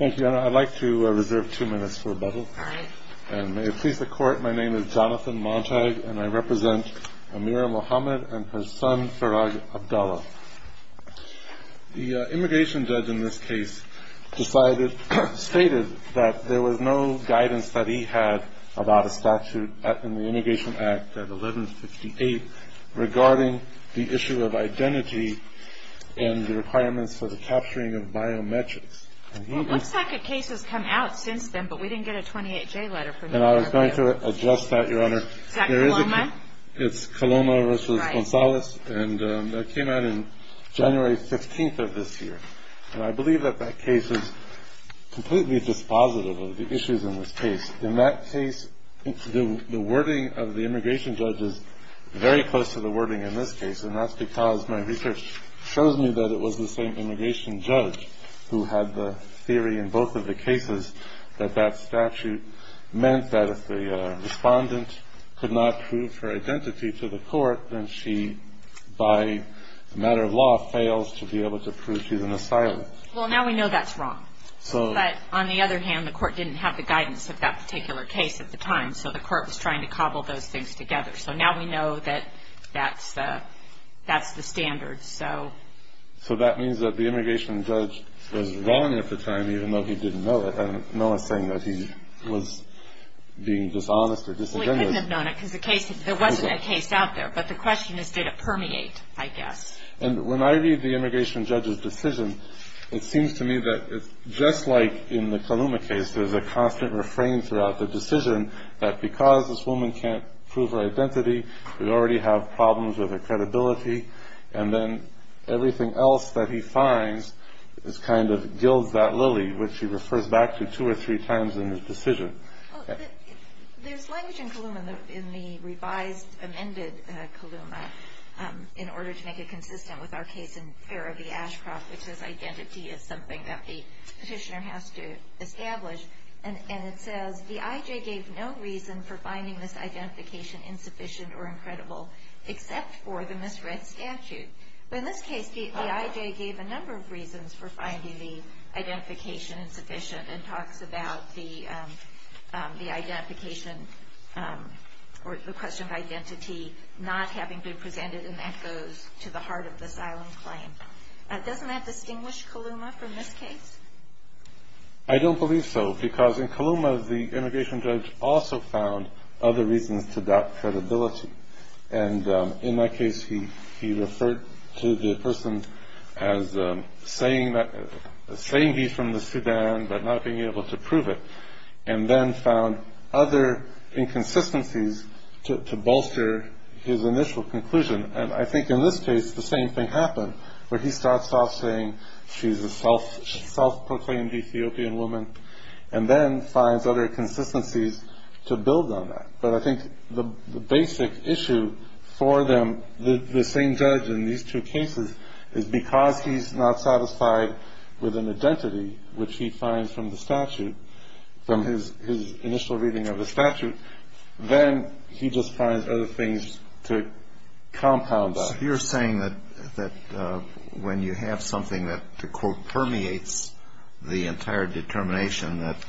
I'd like to reserve two minutes for rebuttal. May it please the Court, my name is Jonathan Montag and I represent Amira Mohamed and her son Farag Abdallah. The immigration judge in this case stated that there was no guidance that he had about a statute in the Immigration Act at 1158 regarding the issue of identity and the requirements for the capturing of biometrics. It looks like a case has come out since then but we didn't get a 28J letter from you. I was going to address that, Your Honor. Is that Coloma? It's Coloma v. Gonzalez and that came out on January 15th of this year. And I believe that that case is completely dispositive of the issues in this case. In that case, the wording of the immigration judge is very close to the wording in this case and that's because my research shows me that it was the same immigration judge who had the theory in both of the cases that that statute meant that if the respondent could not prove her identity to the court then she, by a matter of law, fails to be able to prove she's an asylum. Well, now we know that's wrong. But on the other hand, the court didn't have the guidance of that particular case at the time so the court was trying to cobble those things together. So now we know that that's the standard. So that means that the immigration judge was wrong at the time even though he didn't know it and no one's saying that he was being dishonest or disingenuous. Well, he couldn't have known it because there wasn't a case out there. But the question is did it permeate, I guess. And when I read the immigration judge's decision, it seems to me that just like in the Kaluma case there's a constant refrain throughout the decision that because this woman can't prove her identity we already have problems with her credibility and then everything else that he finds is kind of gilds that lily which he refers back to two or three times in his decision. There's language in Kaluma, in the revised amended Kaluma in order to make it consistent with our case in Farrah v. Ashcroft which says identity is something that the petitioner has to establish and it says the I.J. gave no reason for finding this identification insufficient or incredible except for the misread statute. But in this case the I.J. gave a number of reasons for finding the identification insufficient and talks about the identification or the question of identity not having been presented and that goes to the heart of the silent claim. Doesn't that distinguish Kaluma from this case? I don't believe so because in Kaluma the immigration judge also found other reasons to doubt credibility. And in my case he referred to the person as saying he's from the Sudan but not being able to prove it and then found other inconsistencies to bolster his initial conclusion and I think in this case the same thing happened where he starts off saying she's a self-proclaimed Ethiopian woman and then finds other consistencies to build on that. But I think the basic issue for them, the same judge in these two cases is because he's not satisfied with an identity which he finds from the statute, from his initial reading of the statute, then he just finds other things to compound that. So you're saying that when you have something that to quote permeates the entire determination that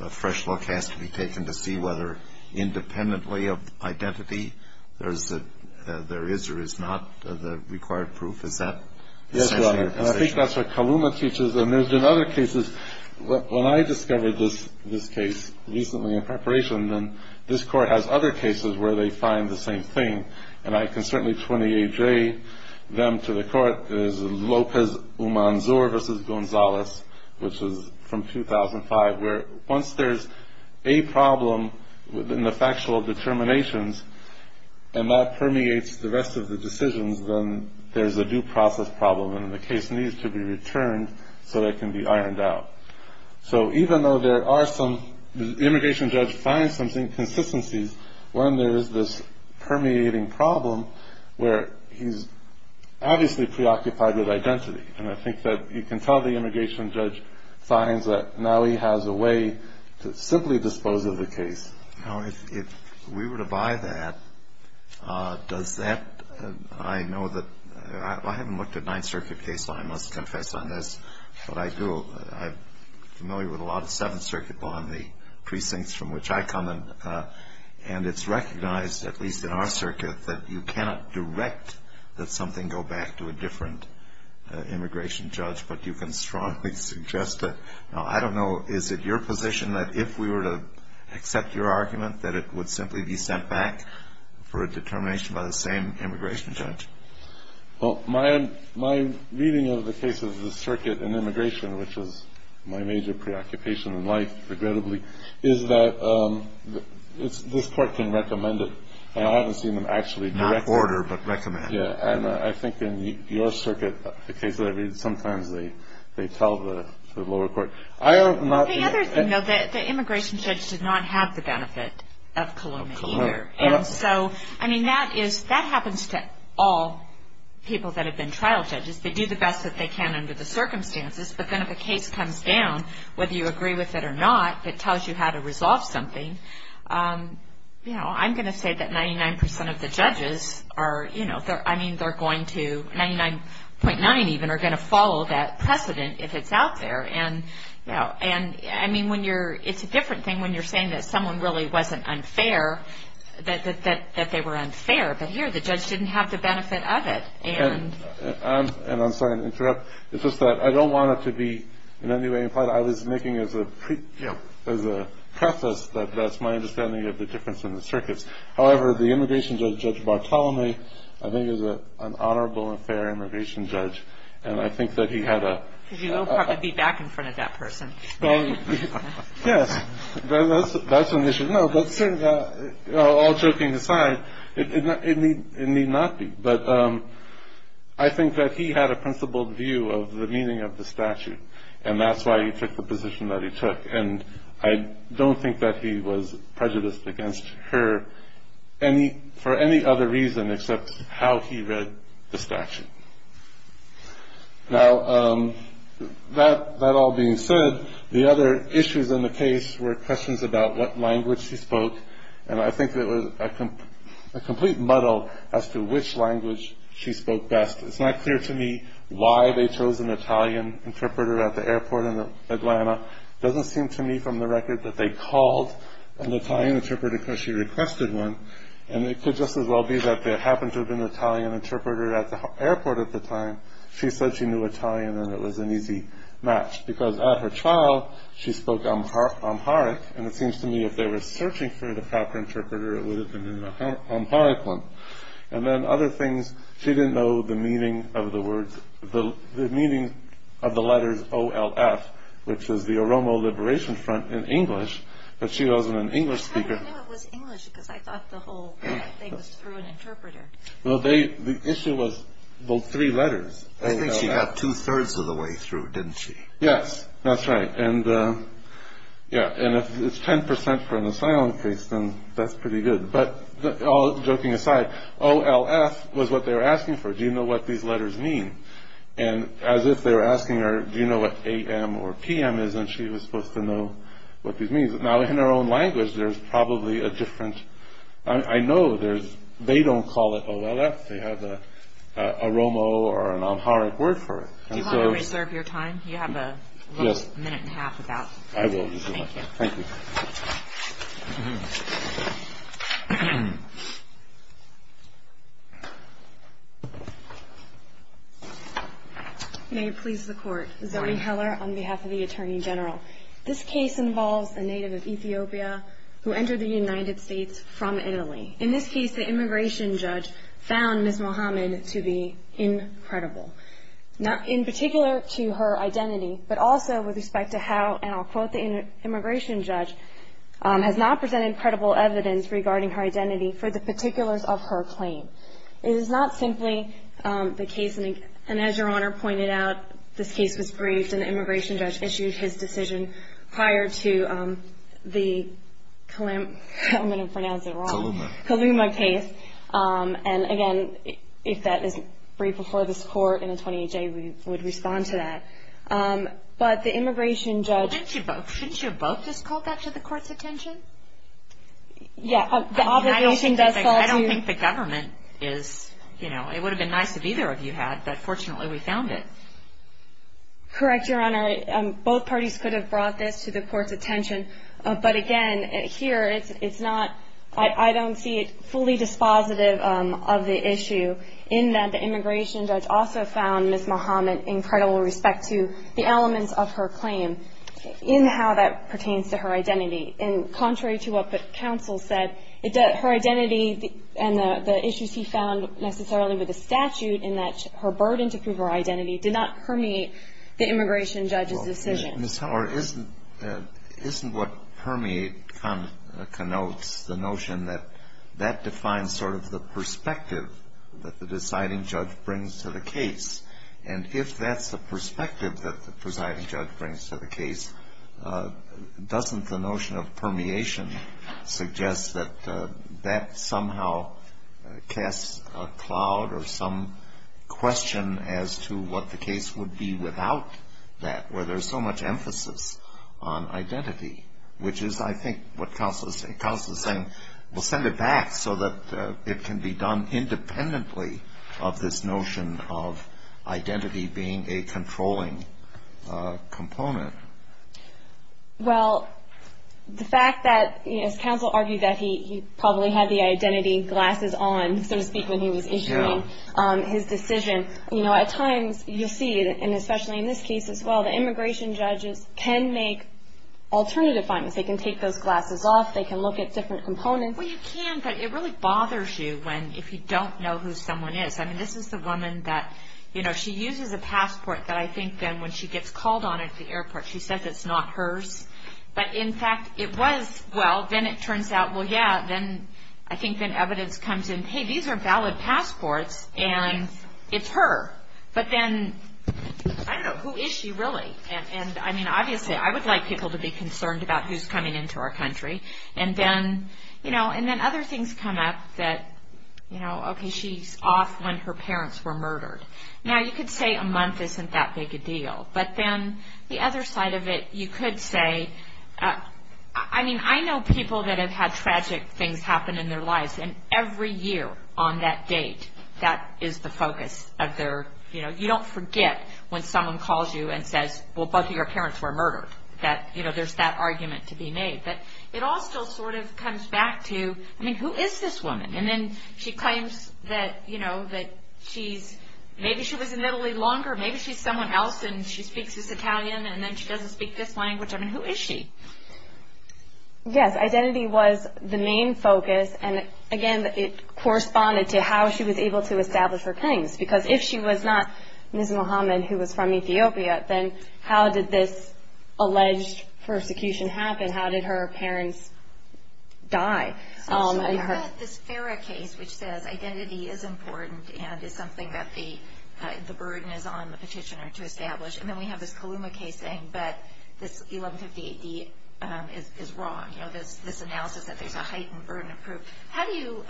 a fresh look has to be taken to see whether independently of identity there is or is not the required proof. Is that essential? Yes, Your Honor. And I think that's what Kaluma teaches and there's been other cases. When I discovered this case recently in preparation then this Court has other cases where they find the same thing and I can certainly 28-J them to the Court. There's Lopez-Umanzur v. Gonzalez which is from 2005 where once there's a problem in the factual determinations and that permeates the rest of the decisions then there's a due process problem and the case needs to be returned so that it can be ironed out. So even though the immigration judge finds some inconsistencies when there is this permeating problem where he's obviously preoccupied with identity and I think that you can tell the immigration judge finds that now he has a way to simply dispose of the case. Now if we were to buy that, does that, I know that, I haven't looked at Ninth Circuit case law, I must confess on this, but I do. I'm familiar with a lot of Seventh Circuit law in the precincts from which I come in and it's recognized, at least in our circuit, that you cannot direct that something go back to a different immigration judge but you can strongly suggest that. Now I don't know, is it your position that if we were to accept your argument that it would simply be sent back for a determination by the same immigration judge? Well, my reading of the case of the circuit in immigration, which was my major preoccupation in life, regrettably, is that this court can recommend it and I haven't seen them actually direct it. Not order but recommend. Yeah, and I think in your circuit, the case that I read, sometimes they tell the lower court. The other thing though, the immigration judge did not have the benefit of cologne either and so, I mean, that happens to all people that have been trial judges. They do the best that they can under the circumstances but then if a case comes down, whether you agree with it or not, but tells you how to resolve something, I'm going to say that 99% of the judges are going to, 99.9 even, are going to follow that precedent if it's out there. I mean, it's a different thing when you're saying that someone really wasn't unfair, that they were unfair, but here the judge didn't have the benefit of it. And I'm sorry to interrupt. It's just that I don't want it to be in any way implied. I was making as a preface that that's my understanding of the difference in the circuits. However, the immigration judge, Judge Bartholomew, I think is an honorable and fair immigration judge and I think that he had a- Because you will probably be back in front of that person. Yes, that's an issue. No, all joking aside, it need not be. But I think that he had a principled view of the meaning of the statute and that's why he took the position that he took. And I don't think that he was prejudiced against her for any other reason except how he read the statute. Now, that all being said, the other issues in the case were questions about what language he spoke and I think it was a complete muddle as to which language she spoke best. It's not clear to me why they chose an Italian interpreter at the airport in Atlanta. It doesn't seem to me from the record that they called an Italian interpreter because she requested one. And it could just as well be that there happened to have been an Italian interpreter at the airport at the time. She said she knew Italian and it was an easy match because at her trial, she spoke Amharic and it seems to me if they were searching for the proper interpreter, it would have been an Amharic one. And then other things, she didn't know the meaning of the letters O-L-F which is the Oromo Liberation Front in English but she wasn't an English speaker. I didn't know it was English because I thought the whole thing was through an interpreter. Well, the issue was those three letters. I think she got two-thirds of the way through, didn't she? Yes, that's right. And if it's 10% for an asylum case, then that's pretty good. But all joking aside, O-L-F was what they were asking for. Do you know what these letters mean? And as if they were asking her, do you know what A-M or P-M is and she was supposed to know what these mean. Now in her own language, there's probably a different... I know they don't call it O-L-F. They have a Oromo or an Amharic word for it. Do you mind if we reserve your time? You have a minute and a half. I will. Thank you. May it please the Court. Zoe Heller on behalf of the Attorney General. This case involves a native of Ethiopia who entered the United States from Italy. In this case, the immigration judge found Ms. Mohamed to be incredible. In particular to her identity, but also with respect to how, and I'll quote the immigration judge, has not presented credible evidence regarding her identity for the particulars of her claim. It is not simply the case, and as Your Honor pointed out, this case was briefed and the immigration judge issued his decision prior to the Kaluma case. And again, if that is briefed before this Court in a 28-day, we would respond to that. But the immigration judge... Shouldn't you have both just called that to the Court's attention? Yeah, the obligation does call to... I don't think the government is... It would have been nice if either of you had, but fortunately we found it. Correct, Your Honor. Both parties could have brought this to the Court's attention. But again, here it's not... I don't see it fully dispositive of the issue, in that the immigration judge also found Ms. Mohamed incredible with respect to the elements of her claim in how that pertains to her identity. And contrary to what the counsel said, her identity and the issues he found necessarily with the statute in that her burden to prove her identity did not permeate the immigration judge's decision. Well, Ms. Howard, isn't what permeate connotes the notion that that defines sort of the perspective that the deciding judge brings to the case? And if that's the perspective that the presiding judge brings to the case, doesn't the notion of permeation suggest that that somehow casts a cloud or some question as to what the case would be without that, where there's so much emphasis on identity, which is, I think, what counsel is saying. We'll send it back so that it can be done independently of this notion of identity being a controlling component. Well, the fact that, as counsel argued, that he probably had the identity glasses on, so to speak, when he was issuing his decision, you know, at times you see, and especially in this case as well, the immigration judges can make alternative findings. They can take those glasses off. They can look at different components. Well, you can, but it really bothers you if you don't know who someone is. I mean, this is the woman that, you know, she uses a passport that I think then when she gets called on at the airport, she says it's not hers. But, in fact, it was. Well, then it turns out, well, yeah, then I think then evidence comes in, and, hey, these are valid passports, and it's her. But then, I don't know, who is she really? And, I mean, obviously I would like people to be concerned about who's coming into our country. And then, you know, and then other things come up that, you know, okay, she's off when her parents were murdered. Now, you could say a month isn't that big a deal. But then the other side of it, you could say, I mean, I know people that have had tragic things happen in their lives, and every year on that date that is the focus of their, you know, you don't forget when someone calls you and says, well, both of your parents were murdered, that, you know, there's that argument to be made. But it all still sort of comes back to, I mean, who is this woman? And then she claims that, you know, that she's, maybe she was in Italy longer. Maybe she's someone else, and she speaks this Italian, and then she doesn't speak this language. I mean, who is she? Yes, identity was the main focus. And, again, it corresponded to how she was able to establish her claims. Because if she was not Ms. Mohamed, who was from Ethiopia, then how did this alleged persecution happen? How did her parents die? So she had this Farah case, which says identity is important And then we have this Kaluma case saying that this 1158D is wrong. You know, this analysis that there's a heightened burden of proof. How do you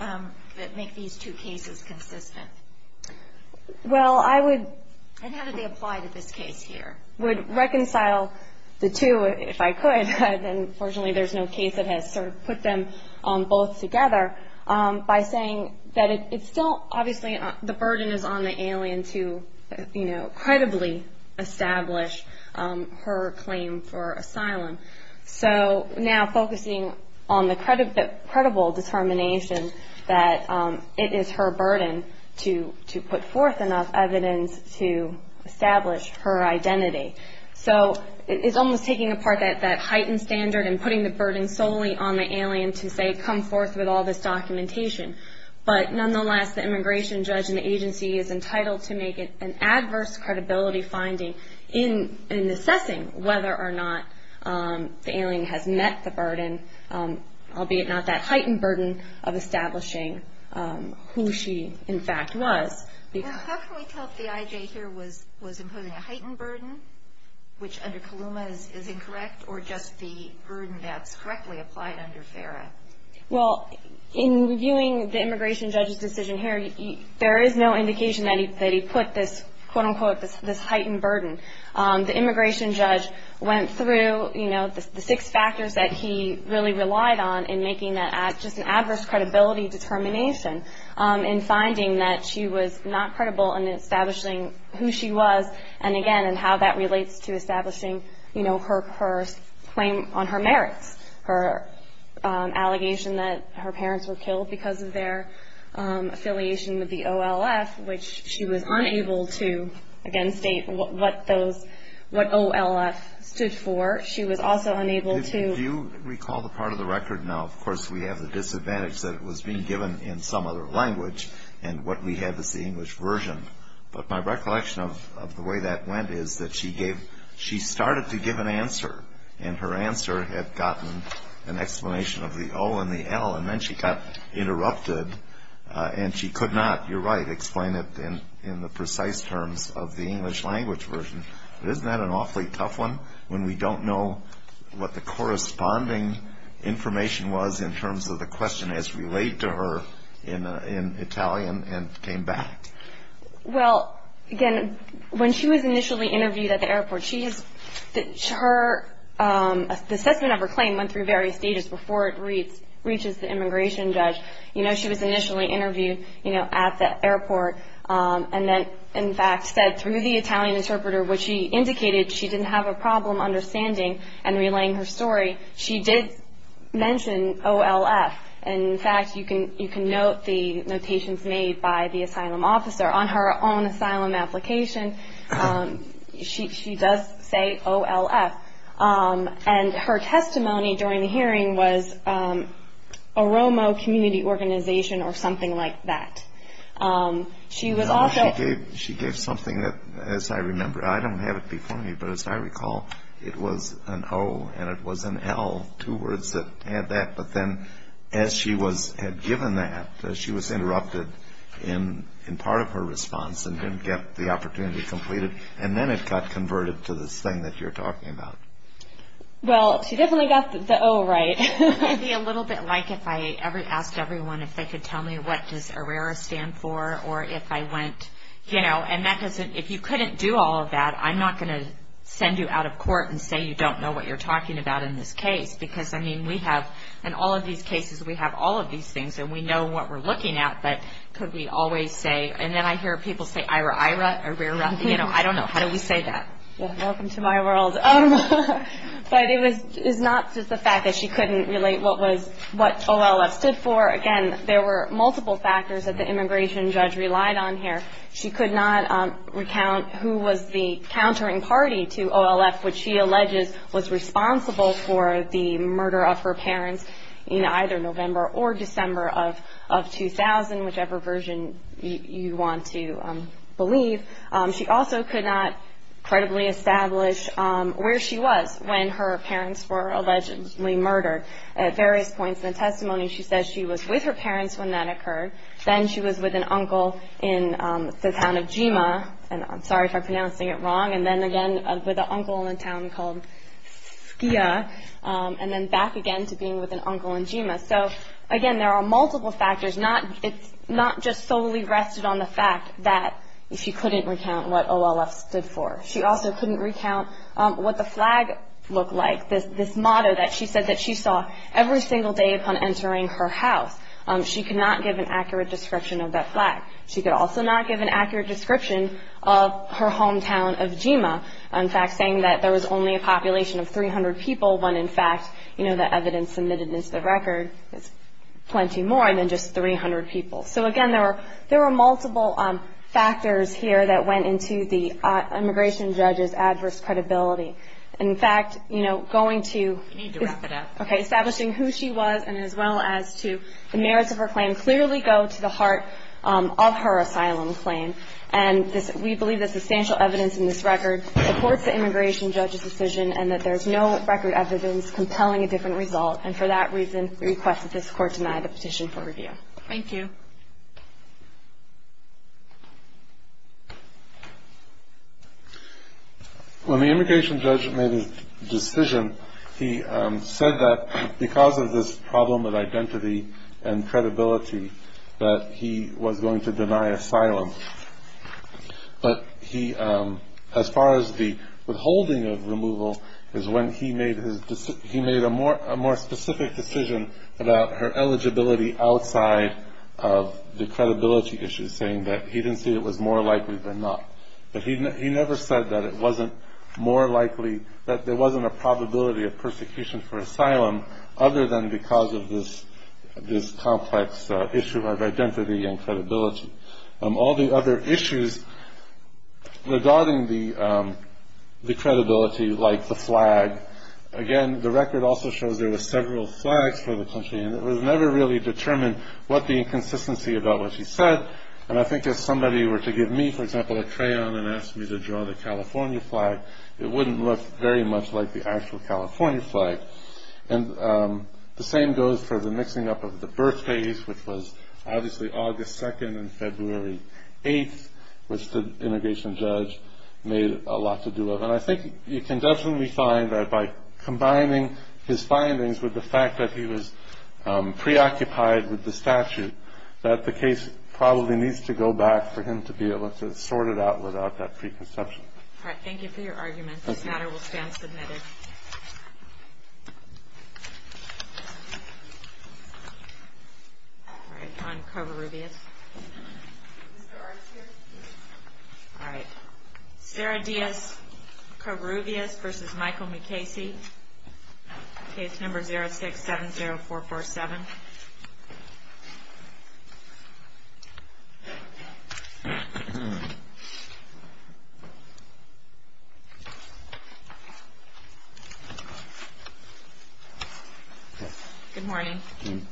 make these two cases consistent? Well, I would. And how did they apply to this case here? Would reconcile the two, if I could. Unfortunately, there's no case that has sort of put them both together. By saying that it's still, obviously, the burden is on the alien to, you know, credibly establish her claim for asylum. So now focusing on the credible determination that it is her burden to put forth enough evidence to establish her identity. So it's almost taking apart that heightened standard and putting the burden solely on the alien to, say, come forth with all this documentation. But nonetheless, the immigration judge and the agency is entitled to make it an adverse credibility finding in assessing whether or not the alien has met the burden, albeit not that heightened burden of establishing who she, in fact, was. How can we tell if the IJ here was imposing a heightened burden, which under KLUMA is incorrect, or just the burden that's correctly applied under FERA? Well, in viewing the immigration judge's decision here, there is no indication that he put this, quote, unquote, this heightened burden. The immigration judge went through, you know, the six factors that he really relied on in making that just an adverse credibility determination in finding that she was not credible in establishing who she was, and again, and how that relates to establishing, you know, her claim on her merits, her allegation that her parents were killed because of their affiliation with the OLF, which she was unable to, again, state what those OLF stood for. She was also unable to- If you recall the part of the record now, of course, we have the disadvantage that it was being given in some other language, and what we have is the English version. But my recollection of the way that went is that she started to give an answer, and her answer had gotten an explanation of the O and the L, and then she got interrupted, and she could not, you're right, explain it in the precise terms of the English language version. But isn't that an awfully tough one, when we don't know what the corresponding information was in terms of the question as related to her in Italian and came back? Well, again, when she was initially interviewed at the airport, the assessment of her claim went through various stages before it reaches the immigration judge. You know, she was initially interviewed, you know, at the airport, and then, in fact, said through the Italian interpreter what she indicated. She didn't have a problem understanding and relaying her story. She did mention O-L-F, and, in fact, you can note the notations made by the asylum officer. On her own asylum application, she does say O-L-F, and her testimony during the hearing was a Romo community organization or something like that. She was also- She gave something that, as I remember, I don't have it before me, but, as I recall, it was an O and it was an L, two words that had that. But then, as she had given that, she was interrupted in part of her response and didn't get the opportunity completed, and then it got converted to this thing that you're talking about. Well, she definitely got the O right. It would be a little bit like if I asked everyone if they could tell me what does Herrera stand for or if I went, you know, and that doesn't- If you couldn't do all of that, I'm not going to send you out of court and say you don't know what you're talking about in this case, because, I mean, we have- In all of these cases, we have all of these things, and we know what we're looking at, but could we always say- And then I hear people say Ira-Ira or Rera. You know, I don't know. How do we say that? Welcome to my world. But it was not just the fact that she couldn't relate what O-L-F stood for. Again, there were multiple factors that the immigration judge relied on here. She could not recount who was the countering party to O-L-F, which she alleges was responsible for the murder of her parents in either November or December of 2000, whichever version you want to believe. She also could not credibly establish where she was when her parents were allegedly murdered. At various points in the testimony, she says she was with her parents when that occurred. Then she was with an uncle in the town of Jima, and I'm sorry if I'm pronouncing it wrong, and then again with an uncle in a town called Skia, and then back again to being with an uncle in Jima. So, again, there are multiple factors. It's not just solely rested on the fact that she couldn't recount what O-L-F stood for. She also couldn't recount what the flag looked like, this motto that she said that she saw every single day upon entering her house. She could not give an accurate description of that flag. She could also not give an accurate description of her hometown of Jima, in fact saying that there was only a population of 300 people when, in fact, the evidence submitted into the record is plenty more than just 300 people. So, again, there were multiple factors here that went into the immigration judge's adverse credibility. In fact, you know, going to establishing who she was and as well as to the merits of her claim clearly go to the heart of her asylum claim, and we believe that substantial evidence in this record supports the immigration judge's decision and that there's no record evidence compelling a different result, and for that reason we request that this Court deny the petition for review. Thank you. When the immigration judge made his decision, he said that because of this problem of identity and credibility that he was going to deny asylum. But he, as far as the withholding of removal, is when he made a more specific decision about her eligibility outside of the credibility issue, saying that he didn't see it was more likely than not. But he never said that it wasn't more likely, that there wasn't a probability of persecution for asylum other than because of this complex issue of identity and credibility. All the other issues regarding the credibility, like the flag, again, the record also shows there were several flags for the country and it was never really determined what the inconsistency about what she said, and I think if somebody were to give me, for example, a crayon and ask me to draw the California flag, it wouldn't look very much like the actual California flag. And the same goes for the mixing up of the birth date, which was obviously August 2nd and February 8th, which the immigration judge made a lot to do with. And I think you can definitely find that by combining his findings with the fact that he was preoccupied with the statute, that the case probably needs to go back for him to be able to sort it out without that preconception. All right, thank you for your argument. This matter will stand submitted. All right, on Covarrubias. All right, Sarah Diaz, Covarrubias v. Michael McKaysey, case number 0670447. Thank you. Good morning.